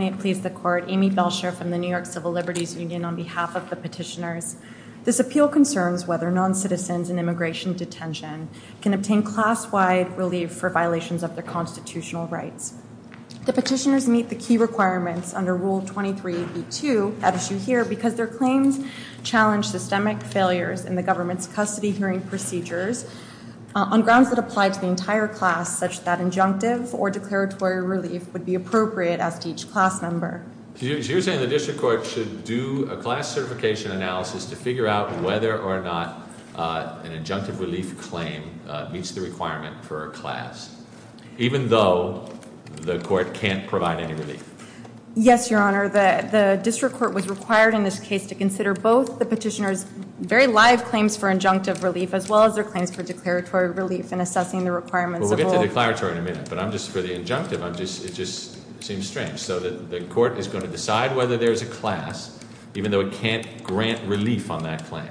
May it please the Court, Amy Belsher from the New York Civil Liberties Union on behalf of the petitioners. This appeal concerns whether non-citizens in immigration detention can obtain class-wide relief for violations of their constitutional rights. The petitioners meet the key requirements under Rule 23b2, as issued here, because their claims challenge systemic failures in the government's custody hearing procedures on grounds that apply to the entire class, such that injunctive or declaratory relief would be appropriate as to each class member. So you're saying the district court should do a class certification analysis to figure out whether or not an injunctive relief claim meets the requirement for a class, even though the court can't provide any relief? Yes, Your Honor. The district court was required in this case to consider both the petitioners' very live claims for injunctive relief as well as their claims for declaratory relief in assessing the requirements of all— Well, we'll get to declaratory in a minute, but for the injunctive, it just seems strange. So the court is going to decide whether there's a class, even though it can't grant relief on that claim?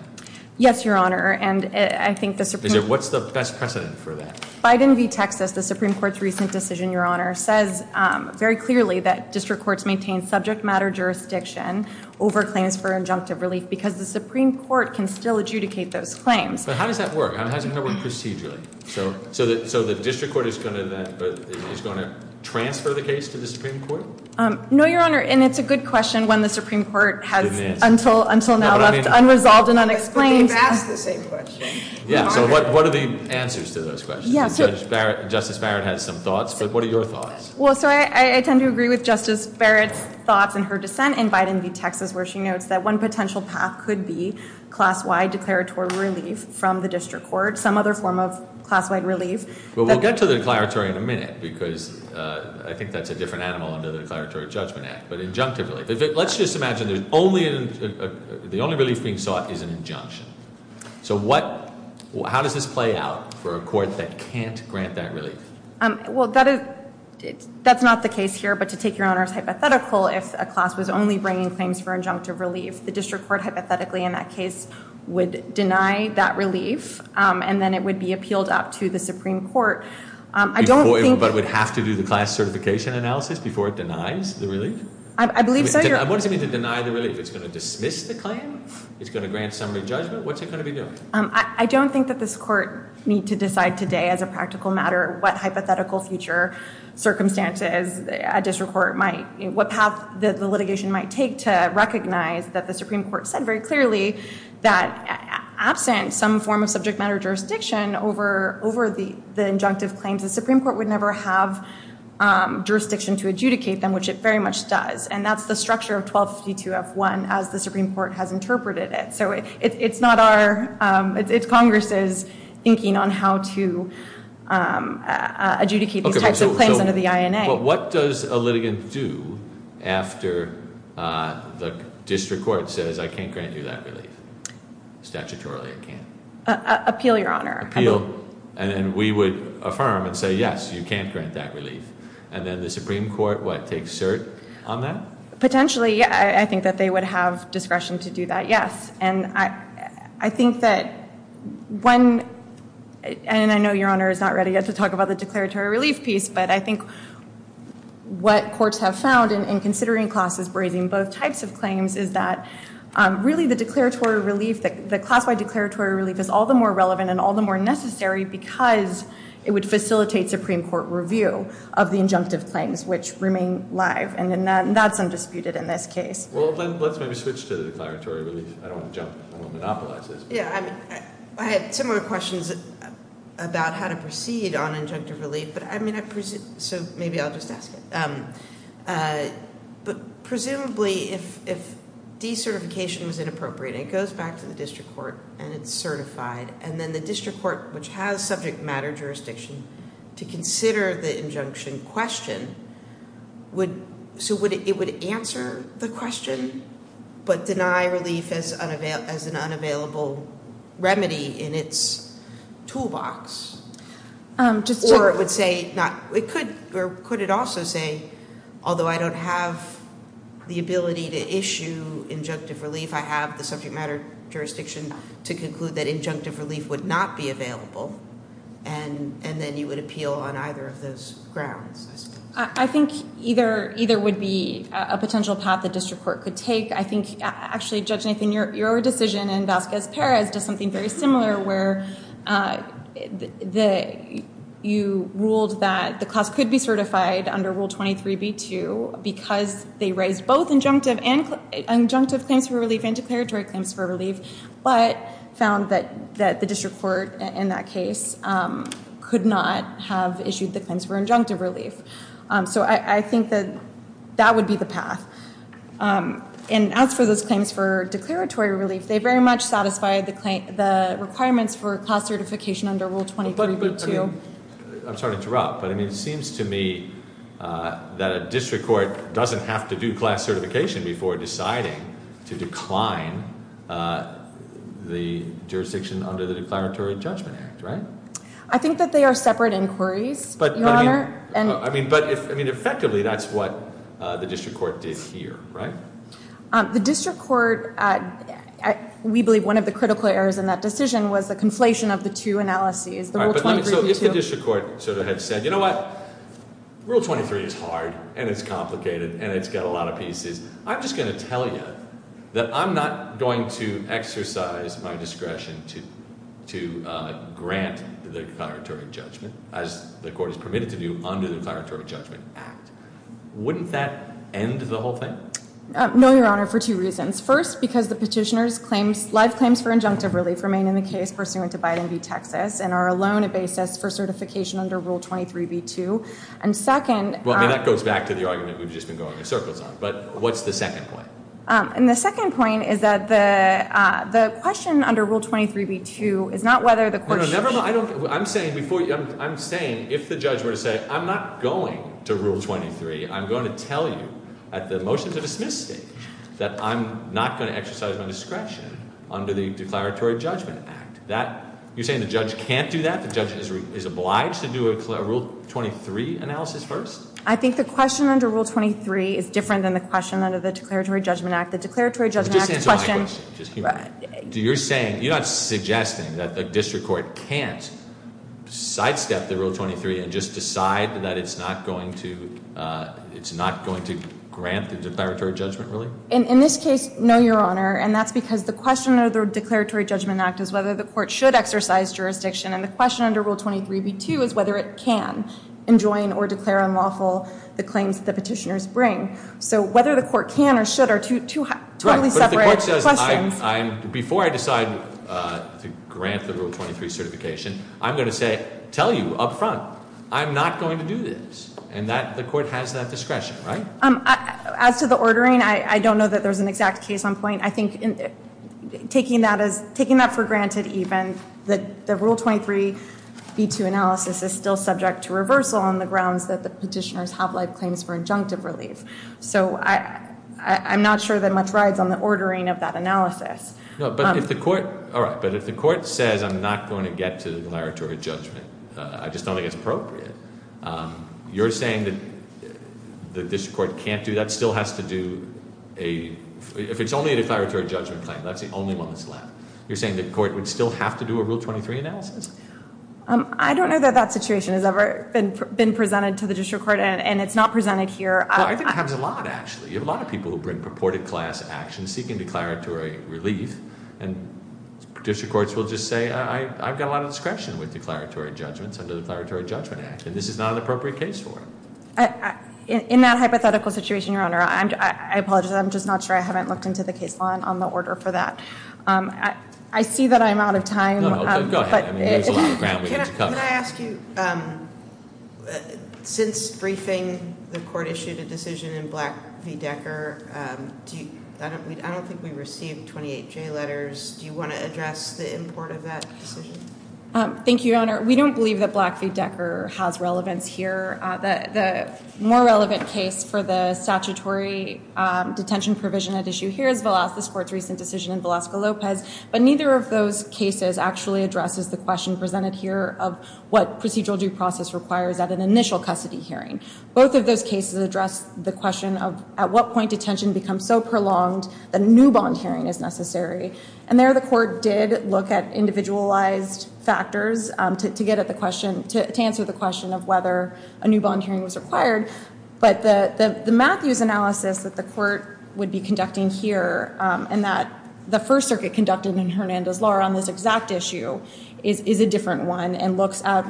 Yes, Your Honor. And I think the Supreme— What's the best precedent for that? Biden v. Texas, the Supreme Court's recent decision, Your Honor, says very clearly that district courts maintain subject matter jurisdiction over claims for injunctive relief because the Supreme Court can still adjudicate those claims. But how does that work? How does it work procedurally? So the district court is going to transfer the case to the Supreme Court? No, Your Honor, and it's a good question when the Supreme Court has, until now, left unresolved and unexplained— But they've asked the same question. Yeah, so what are the answers to those questions? Justice Barrett has some thoughts, but what are your thoughts? Well, so I tend to agree with Justice Barrett's thoughts and her dissent in Biden v. Texas, where she notes that one potential path could be class-wide declaratory relief from the Supreme Court. Well, we'll get to the declaratory in a minute because I think that's a different animal under the Declaratory Judgment Act, but injunctive relief. Let's just imagine there's only—the only relief being sought is an injunction. So what—how does this play out for a court that can't grant that relief? Well, that is—that's not the case here, but to take Your Honor's hypothetical, if a class was only bringing claims for injunctive relief, the district court hypothetically in that case would deny that relief, and then it would be appealed up to the Supreme Court. I don't think— But would have to do the class certification analysis before it denies the relief? I believe so, Your— What does it mean to deny the relief? It's going to dismiss the claim? It's going to grant summary judgment? What's it going to be doing? I don't think that this court need to decide today as a practical matter what hypothetical future circumstances a district court might—what path the litigation might take to recognize that the Supreme Court said very clearly that absent some form of subject matter jurisdiction over—over the injunctive claims, the Supreme Court would never have jurisdiction to adjudicate them, which it very much does. And that's the structure of 1252F1 as the Supreme Court has interpreted it. So it's not our—it's Congress's thinking on how to adjudicate these types of claims under the INA. But what does a litigant do after the district court says, I can't grant you that relief? Statutorily, I can't. Appeal, Your Honor. Appeal. And then we would affirm and say, yes, you can't grant that relief. And then the Supreme Court, what, takes cert on that? Potentially, yeah. I think that they would have discretion to do that, yes. And I—I think that when—and I know Your Honor is not ready yet to talk about the declaratory relief piece, but I think what courts have found in considering classes brazing both types of claims is that really the declaratory relief, the class-wide declaratory relief is all the more relevant and all the more necessary because it would facilitate Supreme Court review of the injunctive claims, which remain live. And that's undisputed in this case. Well, then let's maybe switch to the declaratory relief. I don't want to jump—I don't want to monopolize this. Yeah. I mean, I have similar questions about how to proceed on injunctive relief, but I mean, so maybe I'll just ask it. But presumably, if decertification was inappropriate, it goes back to the district court and it's certified, and then the district court, which has subject matter jurisdiction, to consider the injunction question would—so it would answer the question, but deny relief as an unavailable remedy in its toolbox, or it would say not—or could it also say, although I don't have the ability to issue injunctive relief, I have the subject matter jurisdiction to conclude that injunctive relief would not be available, and then you would appeal on either of those grounds, I suppose. I think either would be a potential path the district court could take. I think, actually, Judge Nathan, your decision in Vasquez-Perez does something very similar, where you ruled that the class could be certified under Rule 23b-2 because they raised both injunctive claims for relief and declaratory claims for relief, but found that the district court in that case could not have issued the claims for injunctive relief. So I think that that would be the path. And as for those claims for declaratory relief, they very much satisfied the requirements for class certification under Rule 23b-2. I'm sorry to interrupt, but it seems to me that a district court doesn't have to do class certification before deciding to decline the jurisdiction under the Declaratory Judgment Act, right? I think that they are separate inquiries, Your Honor. But, I mean, effectively, that's what the district court did here, right? The district court, we believe one of the critical errors in that decision was the conflation of the two analyses. All right, but let me, so if the district court sort of had said, you know what? Rule 23 is hard, and it's complicated, and it's got a lot of pieces. I'm just going to tell you that I'm not going to exercise my discretion to grant the declaratory judgment, as the court has permitted to do, under the Declaratory Judgment Act. Wouldn't that end the whole thing? No, Your Honor, for two reasons. First, because the petitioner's claims, live claims for injunctive relief remain in the case pursuant to Biden v. Texas and are alone a basis for certification under Rule 23b-2. And second- Well, I mean, that goes back to the argument we've just been going in circles on. But what's the second point? And the second point is that the question under Rule 23b-2 is not whether the court should- I'm saying, before you, I'm saying, if the judge were to say, I'm not going to Rule 23, I'm going to tell you, at the motion to dismiss stage, that I'm not going to exercise my discretion under the Declaratory Judgment Act, that, you're saying the judge can't do that? The judge is obliged to do a Rule 23 analysis first? I think the question under Rule 23 is different than the question under the Declaratory Judgment Act. The Declaratory Judgment Act's question- Just answer my question. You're saying, you're not suggesting that the district court can't sidestep the Rule 23 and just decide that it's not going to, it's not going to grant the Declaratory Judgment, really? In this case, no, Your Honor. And that's because the question under the Declaratory Judgment Act is whether the court should exercise jurisdiction, and the question under Rule 23b-2 is whether it can enjoin or declare unlawful the claims that the petitioners bring. So whether the court can or should are two totally separate questions. That's because before I decide to grant the Rule 23 certification, I'm going to say, tell you up front, I'm not going to do this. And the court has that discretion, right? As to the ordering, I don't know that there's an exact case on point. I think taking that for granted even, the Rule 23b-2 analysis is still subject to reversal on the grounds that the petitioners have live claims for injunctive relief. So I'm not sure that much rides on the ordering of that analysis. No, but if the court, all right, but if the court says, I'm not going to get to the declaratory judgment, I just don't think it's appropriate, you're saying that the district court can't do that, still has to do a, if it's only a declaratory judgment claim, that's the only one that's allowed. You're saying the court would still have to do a Rule 23 analysis? I don't know that that situation has ever been presented to the district court, and it's not presented here. I think it happens a lot, actually. You have a lot of people who bring purported class actions, seeking declaratory relief. And district courts will just say, I've got a lot of discretion with declaratory judgments under the Declaratory Judgment Act. And this is not an appropriate case for it. In that hypothetical situation, Your Honor, I apologize, I'm just not sure I haven't looked into the case law on the order for that. I see that I'm out of time. No, no, go ahead, there's a lot of ground we need to cover. Can I ask you, since briefing the court issued a decision in Black v. Decker, I don't think we received 28 J letters. Do you want to address the import of that decision? Thank you, Your Honor. We don't believe that Black v. Decker has relevance here. The more relevant case for the statutory detention provision at issue here is Velasquez Court's recent decision in Velasquez-Lopez. But neither of those cases actually addresses the question presented here of what procedural due process requires at an initial custody hearing. Both of those cases address the question of at what point detention becomes so prolonged that a new bond hearing is necessary. And there the court did look at individualized factors to answer the question of whether a new bond hearing was required. But the Matthews analysis that the court would be conducting here and that the First Circuit conducted in Hernandez-Laura on this exact issue is a different one and looks at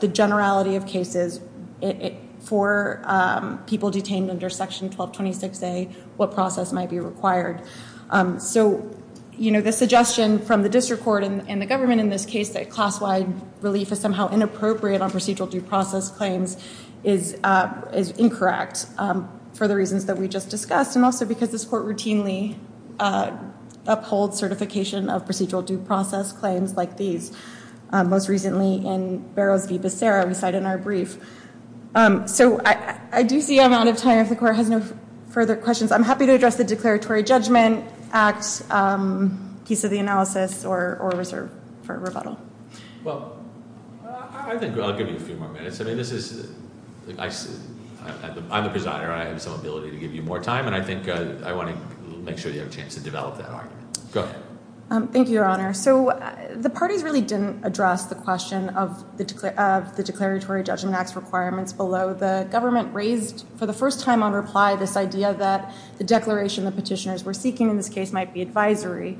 the generality of cases for people detained under Section 1226A, what process might be required. So the suggestion from the district court and the government in this case that class-wide relief is somehow inappropriate on procedural due process claims is incorrect for the reasons that we just discussed, and also because this court routinely upholds certification of procedural due process claims like these. Most recently in Barrows v. Becerra, we cite in our brief. So I do see I'm out of time if the court has no further questions. I'm happy to address the declaratory judgment, act, piece of the analysis, or reserve for rebuttal. Well, I think I'll give you a few more minutes. I mean, this is, I'm the presider, and I have some ability to give you more time. And I think I want to make sure you have a chance to develop that argument. Go ahead. Thank you, Your Honor. So the parties really didn't address the question of the declaratory judgment act's requirements below. The government raised for the first time on reply this idea that the declaration the petitioners were seeking in this case might be advisory.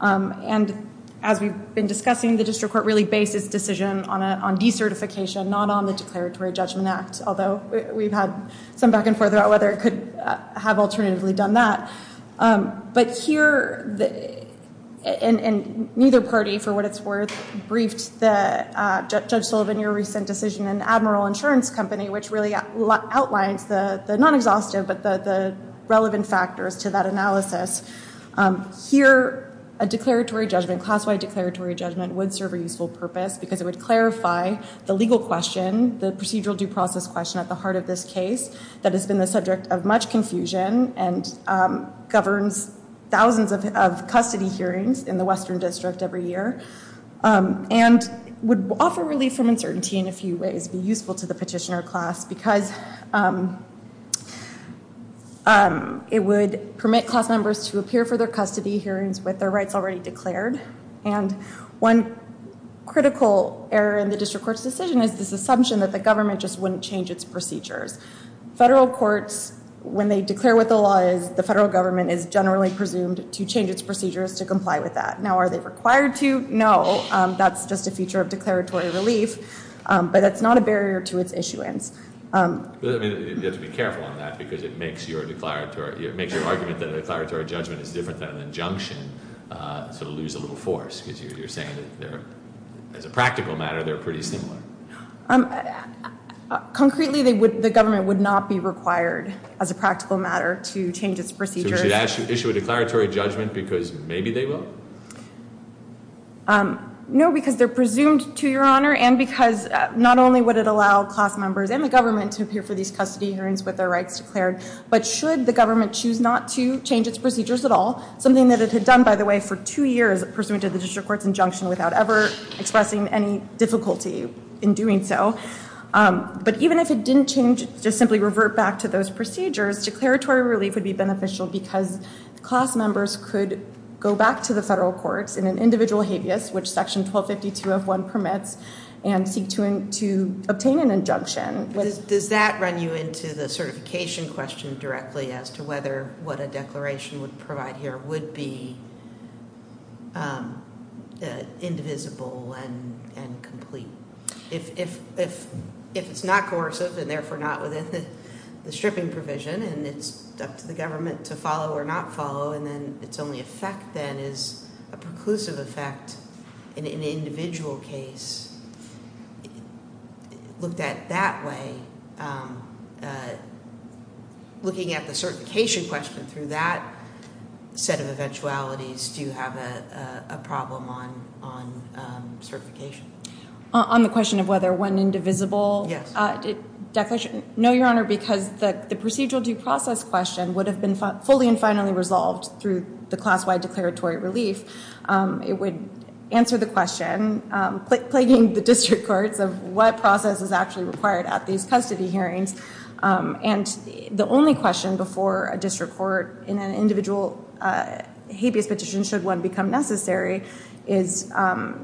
And as we've been discussing, the district court really based its decision on decertification, not on the declaratory judgment act. Although we've had some back and forth about whether it could have alternatively done that. But here, and neither party, for what it's worth, briefed Judge Sullivan your recent decision in Admiral Insurance Company, which really outlines the non-exhaustive, but the relevant factors to that analysis. Here, a declaratory judgment, class-wide declaratory judgment, would serve a useful purpose. Because it would clarify the legal question, the procedural due process question at the heart of this case. That has been the subject of much confusion and governs thousands of custody hearings in the western district every year. And would offer relief from uncertainty in a few ways, be useful to the petitioner class. Because it would permit class members to appear for their custody hearings with their rights already declared. And one critical error in the district court's decision is this assumption that the government just wouldn't change its procedures. Federal courts, when they declare what the law is, the federal government is generally presumed to change its procedures to comply with that. Now, are they required to? No, that's just a feature of declaratory relief. But that's not a barrier to its issuance. You have to be careful on that, because it makes your argument that a declaratory judgment is different than an injunction. So it'll lose a little force, because you're saying that as a practical matter, they're pretty similar. Concretely, the government would not be required, as a practical matter, to change its procedures. So would you issue a declaratory judgment, because maybe they will? No, because they're presumed to, Your Honor, and because not only would it allow class members and the government to appear for these custody hearings with their rights declared. But should the government choose not to change its procedures at all, something that it had done, by the way, for two years, pursuant to the district court's injunction, without ever expressing any difficulty in doing so. But even if it didn't change, just simply revert back to those procedures, declaratory relief would be beneficial, because class members could go back to the federal court, the federal courts, in an individual habeas, which section 1252 of 1 permits, and seek to obtain an injunction. Does that run you into the certification question directly, as to whether what a declaration would provide here would be indivisible and complete? If it's not coercive, and therefore not within the stripping provision, and it's up to the government to follow or not follow, and then its only effect then is a preclusive effect in an individual case. Looked at that way, looking at the certification question through that set of eventualities, do you have a problem on certification? On the question of whether one indivisible declaration? No, Your Honor, because the procedural due process question would have been fully and finally resolved through the class-wide declaratory relief. It would answer the question, plaguing the district courts of what process is actually required at these custody hearings. And the only question before a district court in an individual habeas petition, should one become necessary, is the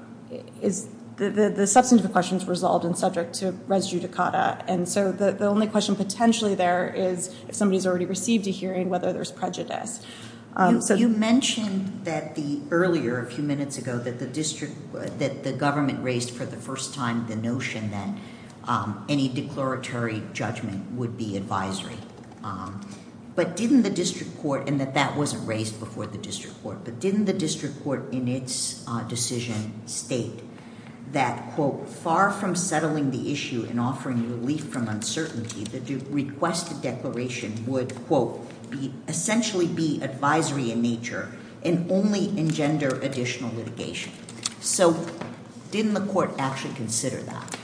substantive questions resolved and subject to res judicata. And so the only question potentially there is, if somebody's already received a hearing, whether there's prejudice. So you mentioned that the earlier, a few minutes ago, that the district, that the government raised for the first time the notion that any declaratory judgment would be advisory. But didn't the district court, and that that wasn't raised before the district court, but didn't the district court in its decision state that, quote, far from settling the issue and offering relief from uncertainty, the requested declaration would, quote, essentially be advisory in nature and only engender additional litigation. So didn't the court actually consider that?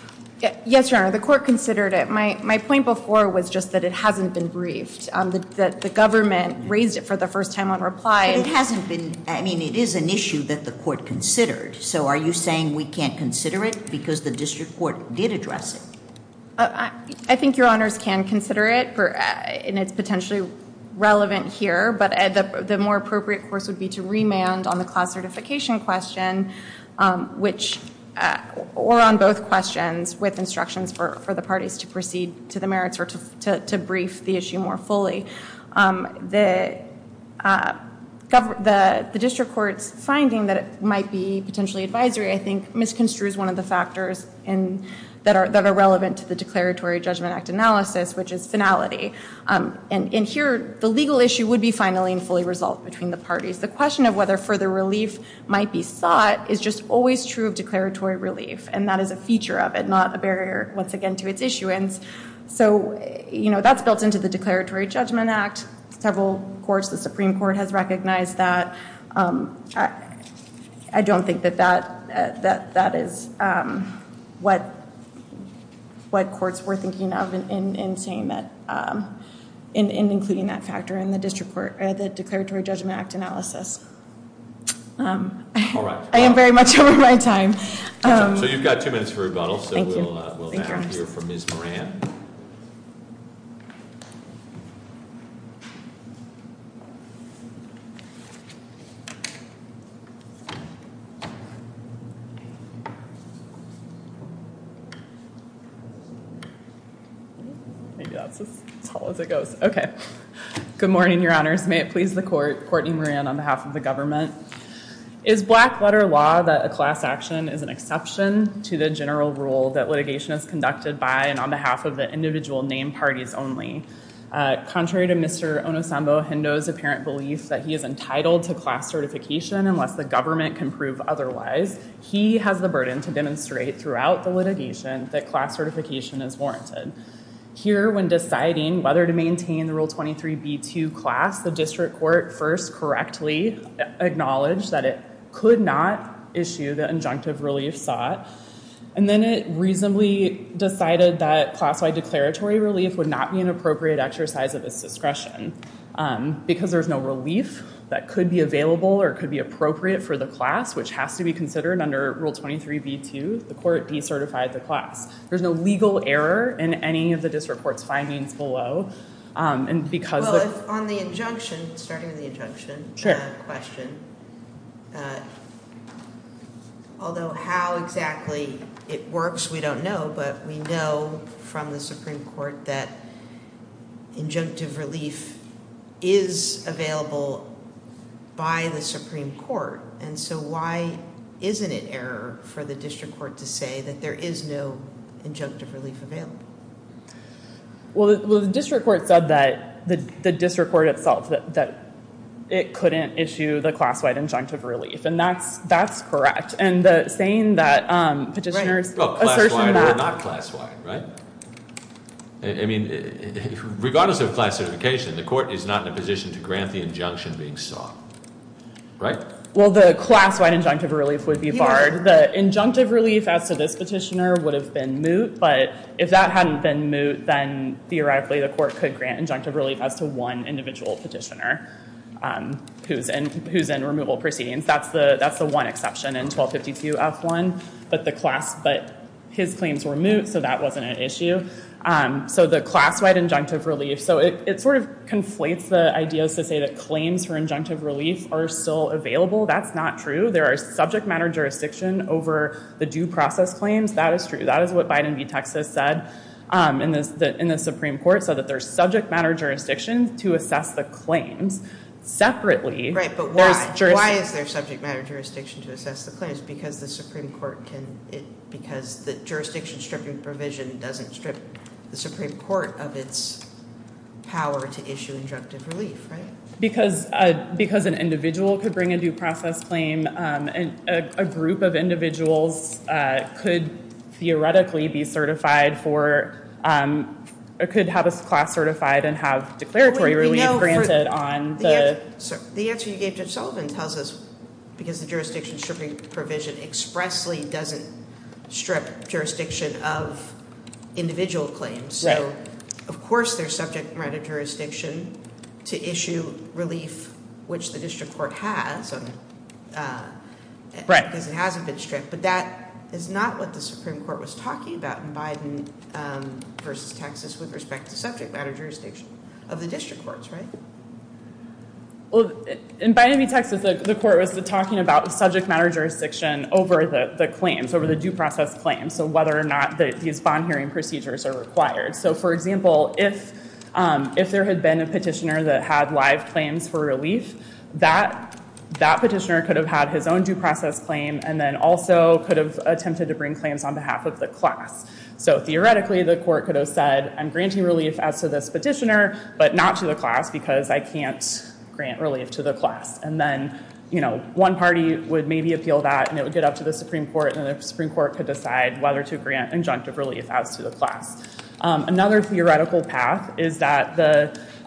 Yes, Your Honor, the court considered it. My point before was just that it hasn't been briefed, that the government raised it for the first time on reply. But it hasn't been, I mean, it is an issue that the court considered. So are you saying we can't consider it, because the district court did address it? I think Your Honors can consider it, and it's potentially relevant here, but the more appropriate course would be to remand on the class certification question, which were on both questions with instructions for the parties to proceed to the merits or to brief the issue more fully. The district court's finding that it might be potentially advisory, I think, misconstrues one of the factors that are relevant to the declaratory judgment act analysis, which is finality. And here, the legal issue would be finally and fully resolved between the parties. The question of whether further relief might be sought is just always true of declaratory relief. And that is a feature of it, not a barrier, once again, to its issuance. So that's built into the declaratory judgment act. Several courts, the Supreme Court, has recognized that. I don't think that that is what courts were thinking of in saying that, in including that factor in the declaratory judgment act analysis. I am very much over my time. So you've got two minutes for rebuttal, so we'll hear from Ms. Moran. Thank you. Maybe that's as tall as it goes. Okay. Good morning, your honors. May it please the court, Courtney Moran on behalf of the government. Is black letter law that a class action is an exception to the general rule that litigation is conducted by and on behalf of the individual name parties only. Contrary to Mr. Onosambo Hendo's apparent belief that he is entitled to class certification unless the government can prove otherwise, he has the burden to demonstrate throughout the litigation that class certification is warranted. Here, when deciding whether to maintain the rule 23B2 class, the district court first correctly acknowledged that it could not issue the injunctive relief sought. And then it reasonably decided that class-wide declaratory relief would not be an appropriate exercise of its discretion. Because there's no relief that could be available or could be appropriate for the class, which has to be considered under rule 23B2, the court decertified the class. There's no legal error in any of the district court's findings below. And because- Well, on the injunction, starting with the injunction question. Sure. Although how exactly it works, we don't know, but we know from the Supreme Court that injunctive relief is available by the Supreme Court, and so why isn't it error for the district court to say that there is no injunctive relief available? Well, the district court said that, the district court itself, that it couldn't issue the class-wide injunctive relief, and that's correct. And the saying that petitioners- Right, well, class-wide or not class-wide, right? I mean, regardless of class certification, the court is not in a position to grant the injunction being sought, right? Well, the class-wide injunctive relief would be barred. The injunctive relief as to this petitioner would have been moot, but if that hadn't been moot, then theoretically the court could grant injunctive relief as to one individual petitioner who's in removal proceedings. That's the one exception in 1252 F1, but his claims were moot, so that wasn't an issue. So the class-wide injunctive relief, so it sort of conflates the ideas to say that claims for injunctive relief are still available. That's not true. There are subject matter jurisdiction over the due process claims. That is true. That is what Biden v. Texas said in the Supreme Court, so that there's subject matter jurisdiction to assess the claims separately. Right, but why is there subject matter jurisdiction to assess the claims? Because the jurisdiction-stripping provision doesn't strip the Supreme Court of its power to issue injunctive relief, right? Because an individual could bring a due process claim, and a group of individuals could theoretically be certified for, or could have a class certified and have declaratory relief granted on the- The answer you gave Judge Sullivan tells us, because the jurisdiction-stripping provision expressly doesn't strip jurisdiction of individual claims, so of course there's subject matter jurisdiction to issue relief, which the district court has, because it hasn't been stripped. But that is not what the Supreme Court was talking about in Biden versus Texas, with respect to subject matter jurisdiction of the district courts, right? Well, in Biden v. Texas, the court was talking about subject matter jurisdiction over the claims, over the due process claims, so whether or not these bond hearing procedures are required. So for example, if there had been a petitioner that had live claims for relief, that petitioner could have had his own due process claim, and then also could have attempted to bring claims on behalf of the class. So theoretically, the court could have said, I'm granting relief as to this petitioner, but not to the class because I can't grant relief to the class. And then one party would maybe appeal that, and it would get up to the Supreme Court, and the Supreme Court could decide whether to grant injunctive relief as to the class. Another theoretical path is that,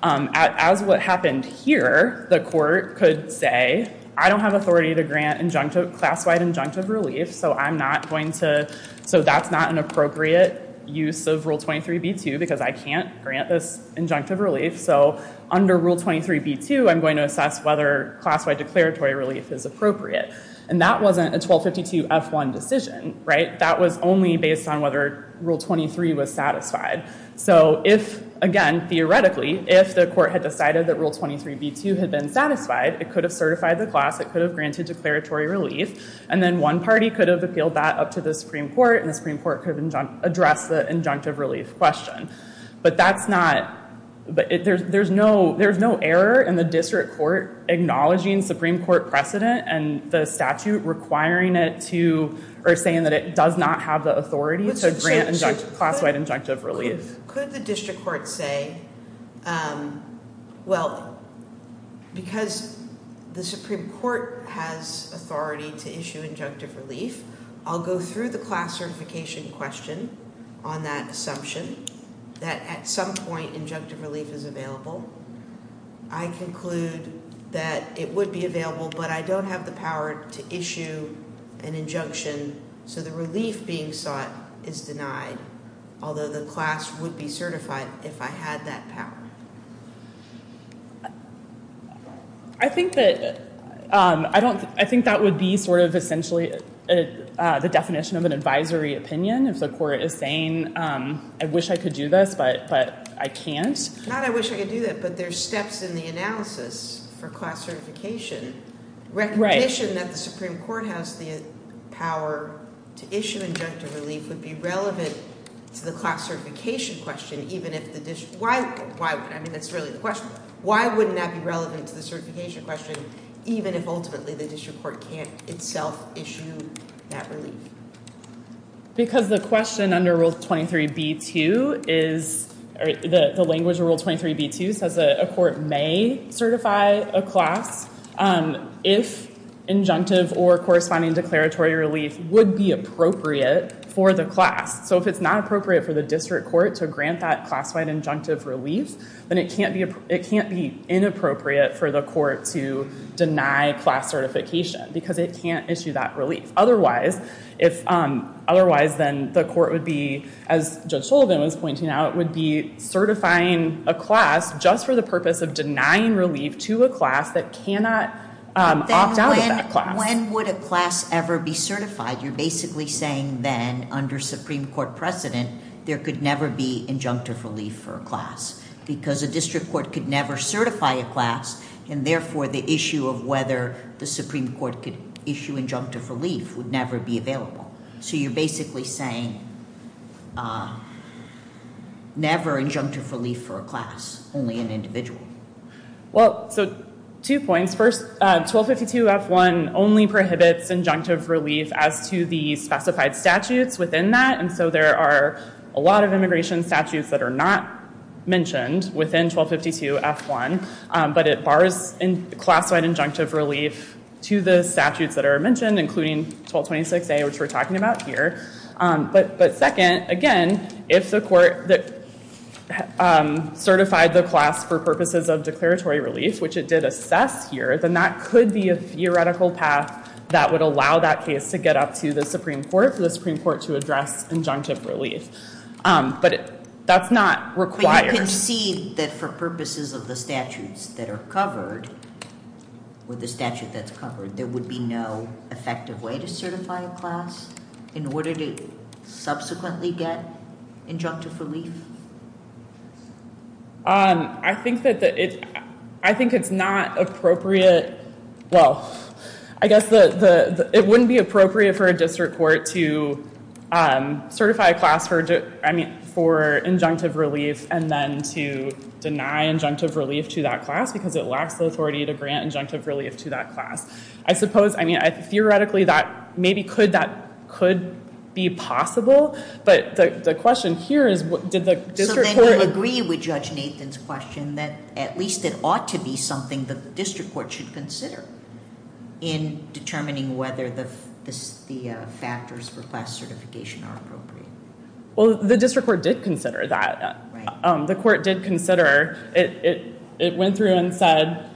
as what happened here, the court could say, I don't have authority to grant class-wide injunctive relief, so that's not an appropriate use of Rule 23b-2, because I can't grant this injunctive relief. So under Rule 23b-2, I'm going to assess whether class-wide declaratory relief is appropriate. And that wasn't a 1252 F-1 decision, right? That was only based on whether Rule 23 was satisfied. So if, again, theoretically, if the court had decided that Rule 23b-2 had been satisfied, it could have certified the class, it could have granted declaratory relief. And then one party could have appealed that up to the Supreme Court, and the Supreme Court could have addressed the injunctive relief question. But there's no error in the district court acknowledging Supreme Court precedent and the statute requiring it to, or saying that it does not have the authority to grant class-wide injunctive relief. Could the district court say, well, because the Supreme Court has authority to issue injunctive relief, I'll go through the class certification question on that assumption, that at some point injunctive relief is available. I conclude that it would be available, but I don't have the power to issue an injunction. So the relief being sought is denied, although the class would be certified if I had that power. I think that would be sort of essentially the definition of an advisory opinion. If the court is saying, I wish I could do this, but I can't. Not I wish I could do that, but there's steps in the analysis for class certification. Recognition that the Supreme Court has the power to issue injunctive relief would be relevant to the class certification question, even if the district, I mean, that's really the question. Why wouldn't that be relevant to the certification question, even if ultimately the district court can't itself issue that relief? Because the question under Rule 23b-2 is, the language of Rule 23b-2 says a court may certify a class if injunctive or corresponding declaratory relief would be appropriate for the class. So if it's not appropriate for the district court to grant that class-wide injunctive relief, then it can't be inappropriate for the court to deny class certification because it can't issue that relief. Otherwise, then the court would be, as Judge Sullivan was pointing out, would be certifying a class just for the purpose of denying relief to a class that cannot opt out of that class. When would a class ever be certified? You're basically saying then, under Supreme Court precedent, there could never be injunctive relief for a class. Because a district court could never certify a class, and therefore, the issue of whether the Supreme Court could issue injunctive relief would never be available. So you're basically saying, never injunctive relief for a class, only an individual. Well, so two points. First, 1252-F1 only prohibits injunctive relief as to the specified statutes within that. And so there are a lot of immigration statutes that are not mentioned within 1252-F1. But it bars class-wide injunctive relief to the statutes that are mentioned, including 1226A, which we're talking about here. But second, again, if the court certified the class for purposes of declaratory relief, which it did assess here, then that could be a theoretical path that would allow that case to get up to the Supreme Court, for the Supreme Court to address injunctive relief. But that's not required. But you concede that for purposes of the statutes that are covered, with the statute that's covered, there would be no effective way to certify a class in order to subsequently get injunctive relief? I think it's not appropriate, well, I guess it wouldn't be appropriate for a district court to certify a class for injunctive relief and then to deny injunctive relief to that class, because it lacks the authority to grant injunctive relief to that class. I suppose, I mean, theoretically, maybe that could be possible, but the question here is, did the district court- In determining whether the factors for class certification are appropriate. Well, the district court did consider that. The court did consider, it went through and said,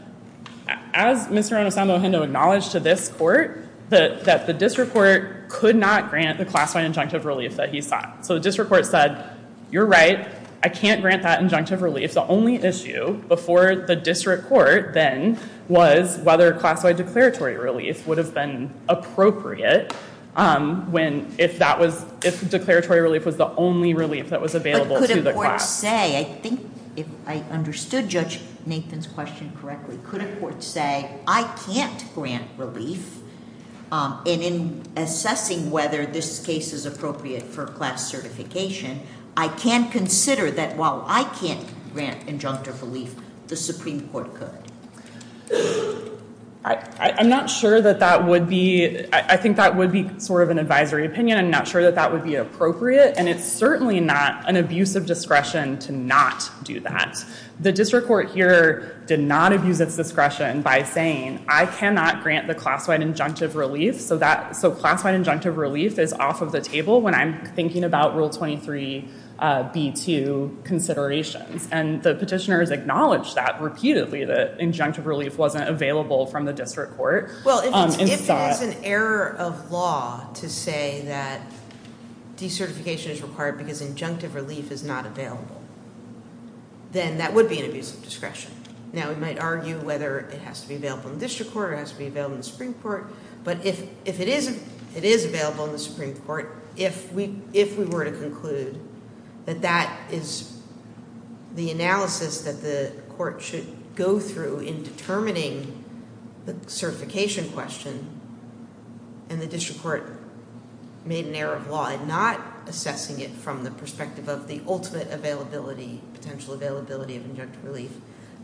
as Mr. Anasamo-Hindo acknowledged to this court, that the district court could not grant the class-wide injunctive relief that he sought. So the district court said, you're right, I can't grant that injunctive relief. If the only issue before the district court, then, was whether class-wide declaratory relief would have been appropriate when if that was, if declaratory relief was the only relief that was available to the class. I think, if I understood Judge Nathan's question correctly, could a court say, I can't grant relief. And in assessing whether this case is appropriate for class certification, I can consider that while I can't grant injunctive relief, the Supreme Court could. I'm not sure that that would be, I think that would be sort of an advisory opinion. I'm not sure that that would be appropriate, and it's certainly not an abuse of discretion to not do that. The district court here did not abuse its discretion by saying, I cannot grant the class-wide injunctive relief. So that, so class-wide injunctive relief is off of the table when I'm thinking about rule 23 B2 considerations. And the petitioners acknowledged that repeatedly, that injunctive relief wasn't available from the district court. Well, if it's an error of law to say that decertification is required because injunctive relief is not available, then that would be an abuse of discretion. Now, we might argue whether it has to be available in the district court or it has to be available in the Supreme Court. But if it is available in the Supreme Court, if we were to conclude that that is the analysis that the court should go through in determining the certification question, and the district court made an error of law in not assessing it from the perspective of the ultimate availability, potential availability of injunctive relief,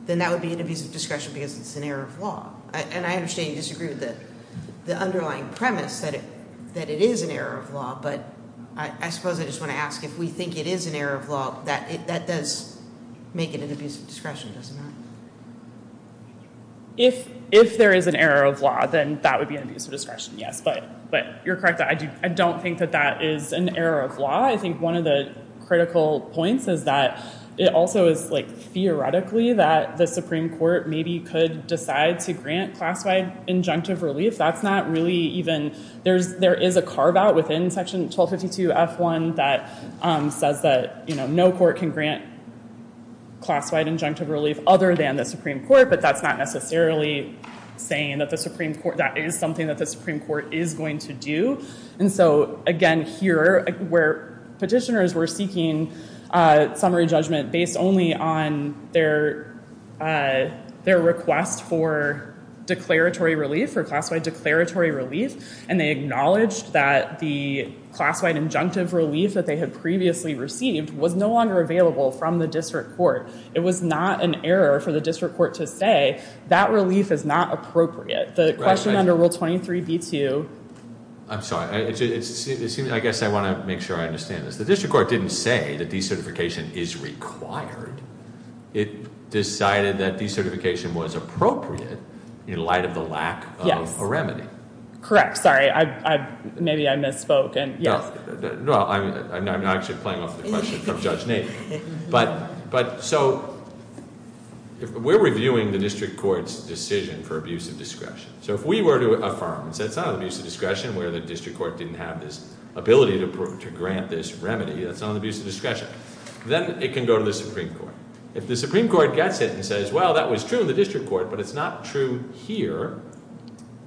then that would be an abuse of discretion because it's an error of law. And I understand you disagree with the underlying premise that it is an error of law. But I suppose I just want to ask, if we think it is an error of law, that does make it an abuse of discretion, doesn't it? If there is an error of law, then that would be an abuse of discretion, yes. But you're correct, I don't think that that is an error of law. I think one of the critical points is that it also is, like, the Supreme Court maybe could decide to grant class-wide injunctive relief. That's not really even, there is a carve out within section 1252 F1 that says that no court can grant class-wide injunctive relief other than the Supreme Court. But that's not necessarily saying that the Supreme Court, that is something that the Supreme Court is going to do. And so, again, here, where petitioners were seeking summary judgment based only on their request for declaratory relief, for class-wide declaratory relief, and they acknowledged that the class-wide injunctive relief that they had previously received was no longer available from the district court. It was not an error for the district court to say, that relief is not appropriate. The question under Rule 23B2- I'm sorry, I guess I want to make sure I understand this. The district court didn't say that decertification is required. It decided that decertification was appropriate in light of the lack of a remedy. Correct, sorry, maybe I misspoken. No, I'm not actually playing off the question from Judge Nadek. But so, we're reviewing the district court's decision for abuse of discretion. So, if we were to affirm that it's not an abuse of discretion where the district court didn't have this ability to grant this remedy, that's not an abuse of discretion, then it can go to the Supreme Court. If the Supreme Court gets it and says, well, that was true in the district court, but it's not true here,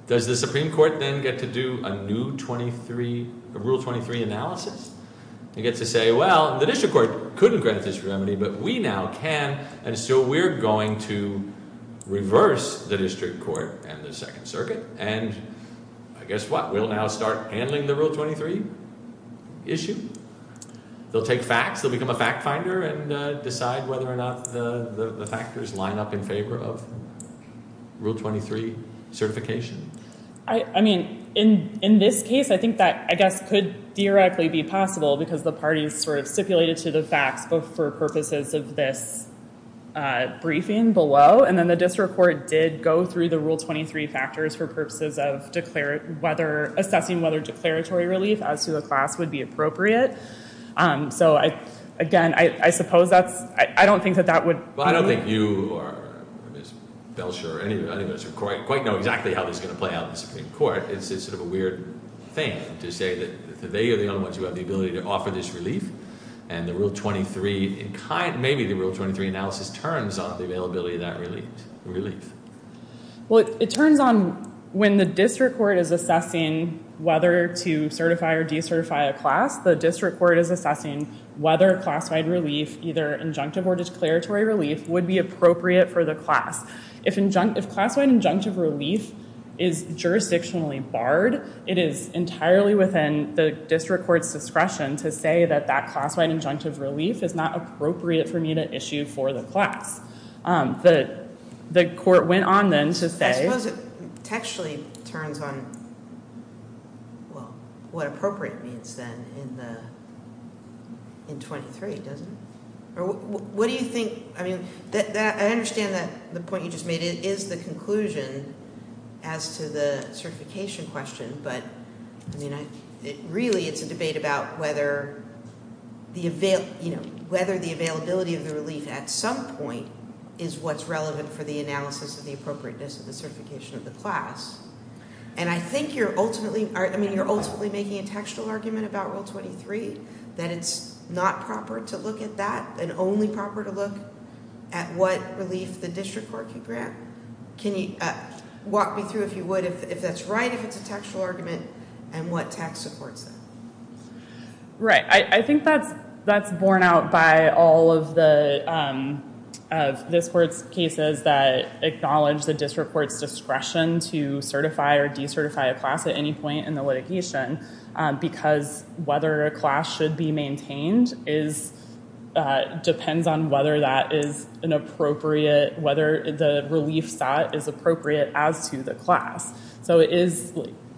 does the Supreme Court then get to do a new Rule 23 analysis? They get to say, well, the district court couldn't grant this remedy, but we now can, and so we're going to reverse the district court and the Second Circuit, and I guess what? We'll now start handling the Rule 23 issue. They'll take facts, they'll become a fact finder, and decide whether or not the factors line up in favor of Rule 23 certification. I mean, in this case, I think that, I guess, could theoretically be possible, because the parties sort of stipulated to the facts for purposes of this briefing below. And then the district court did go through the Rule 23 factors for purposes of assessing whether declaratory relief as to the class would be appropriate. So, again, I suppose that's, I don't think that that would- Well, I don't think you or Ms. Belsher or any of us quite know exactly how this is going to play out in the Supreme Court. It's just sort of a weird thing to say that they are the only ones who have the ability to offer this relief. And the Rule 23, maybe the Rule 23 analysis turns on the availability of that relief. Well, it turns on when the district court is assessing whether to certify or decertify a class. The district court is assessing whether classified relief, either injunctive or declaratory relief, would be appropriate for the class. If class-wide injunctive relief is jurisdictionally barred, it is entirely within the district court's discretion to say that that class-wide injunctive relief is not appropriate for me to issue for the class. The court went on then to say- I suppose it textually turns on, well, what appropriate means then in 23, doesn't it? What do you think, I mean, I understand that the point you just made is the conclusion as to the certification question. But, I mean, really it's a debate about whether the availability of the relief at some point is what's relevant for the analysis of the appropriateness of the certification of the class. And I think you're ultimately making a textual argument about Rule 23, that it's not proper to look at that and only proper to look at what relief the district court can grant. Can you walk me through, if you would, if that's right, if it's a textual argument, and what text supports that? Right. I think that's borne out by all of the of this court's cases that acknowledge the district court's discretion to certify or decertify a class at any point in the litigation. Because whether a class should be maintained depends on whether that is an appropriate- whether the relief sought is appropriate as to the class. So it is,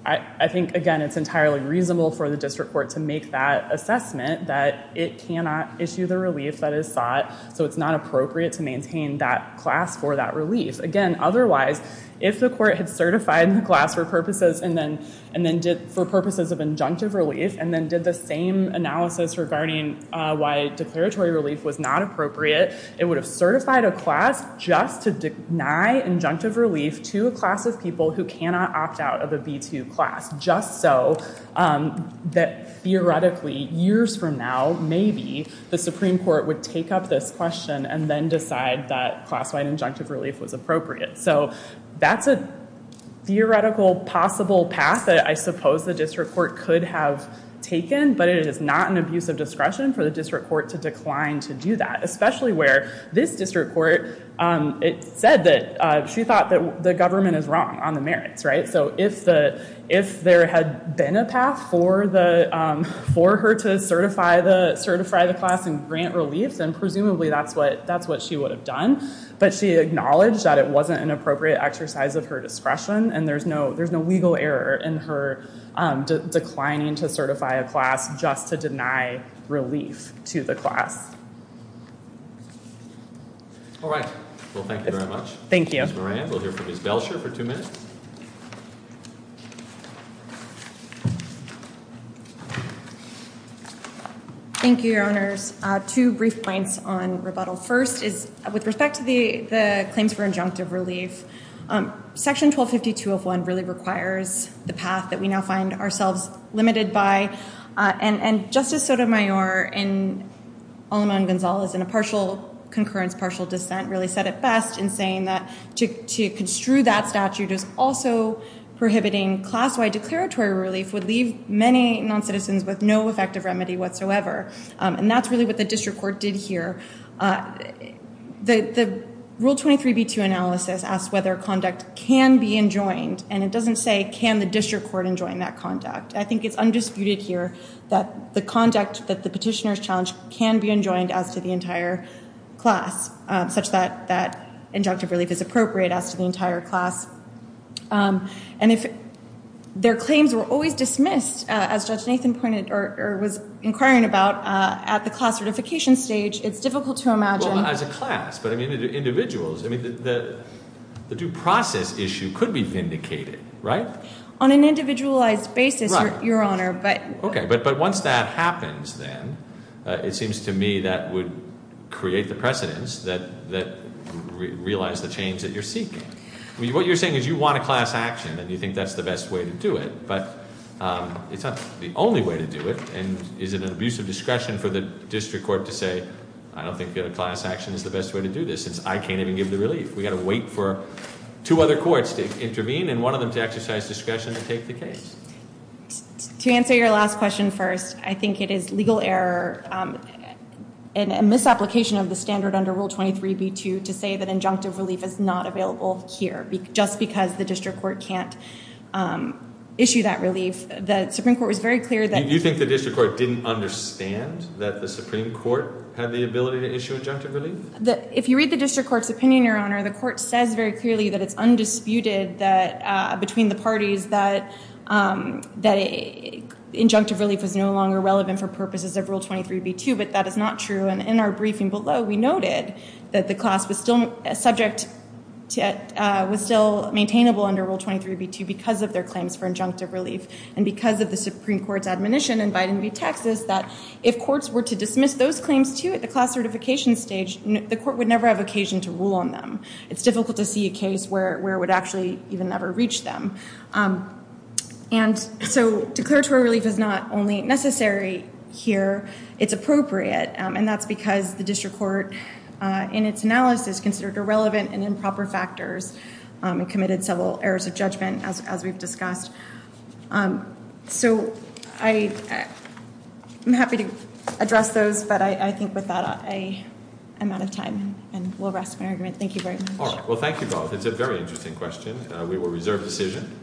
I think, again, it's entirely reasonable for the district court to make that assessment that it cannot issue the relief that is sought. So it's not appropriate to maintain that class for that relief. Again, otherwise, if the court had certified the class for purposes and then did- for purposes of injunctive relief, and then did the same analysis regarding why declaratory relief was not appropriate, it would have certified a class just to deny injunctive relief to a class of people who cannot opt out of a B-2 class. Just so that, theoretically, years from now, maybe the Supreme Court would take up this question and then decide that class-wide injunctive relief was appropriate. So that's a theoretical, possible path that I suppose the district court could have taken, but it is not an abuse of discretion for the district court to decline to do that, especially where this district court, it said that she thought that the government is wrong on the merits, right? So if there had been a path for her to certify the class and grant relief, then presumably that's what- that's what she would have done. But she acknowledged that it wasn't an appropriate exercise of her discretion, and there's no- there's no legal error in her declining to certify a class just to deny relief to the class. All right. Well, thank you very much. Thank you. Ms. Moran, we'll hear from Ms. Belcher for two minutes. Thank you, Your Honors. Two brief points on rebuttal. First is, with respect to the claims for injunctive relief, Section 1252 of 1 really requires the path that we now find ourselves limited by. And Justice Sotomayor, in- Olima and Gonzales, in a partial concurrence, partial dissent, really said it best in saying that to construe that statute as also prohibiting class-wide declaratory relief would leave many non-citizens with no effective remedy whatsoever. And that's really what the district court did here. The Rule 23b2 analysis asked whether conduct can be enjoined, and it doesn't say, can the district court enjoin that conduct? I think it's undisputed here that the conduct that the petitioners challenged can be enjoined as to the entire class, such that injunctive relief is appropriate as to the entire class. And if their claims were always dismissed, as Judge Nathan pointed, or was inquiring about, at the class certification stage, it's difficult to imagine- Well, as a class, but I mean, individuals. The due process issue could be vindicated, right? On an individualized basis, Your Honor, but- But it's not the only way to do it, and is it an abuse of discretion for the district court to say, I don't think that a class action is the best way to do this, since I can't even give the relief? We've got to wait for two other courts to intervene, and one of them to exercise discretion to take the case. To answer your last question first, I think it is legal error, and a misapplication of the standard under Rule 23b2, to say that injunctive relief is not available here, just because the district court can't issue that relief. The Supreme Court was very clear that- You think the district court didn't understand that the Supreme Court had the ability to issue injunctive relief? If you read the district court's opinion, Your Honor, the court says very clearly that it's undisputed that, between the parties, that injunctive relief is no longer relevant for purposes of Rule 23b2, but that is not true, and in our briefing below, we noted that the class was still maintainable under Rule 23b2, because of their claims for injunctive relief, and because of the Supreme Court's admonition in Biden v. Texas, that if courts were to dismiss those claims, too, at the class certification stage, the court would never have occasion to rule on them. It's difficult to see a case where it would actually even ever reach them. And so declaratory relief is not only necessary here, it's appropriate, and that's because the district court, in its analysis, considered irrelevant and improper factors, and committed several errors of judgment, as we've discussed. So I'm happy to address those, but I think with that, I'm out of time, and we'll rest my argument. Thank you very much. All right. Well, thank you both. It's a very interesting question. We will reserve decision.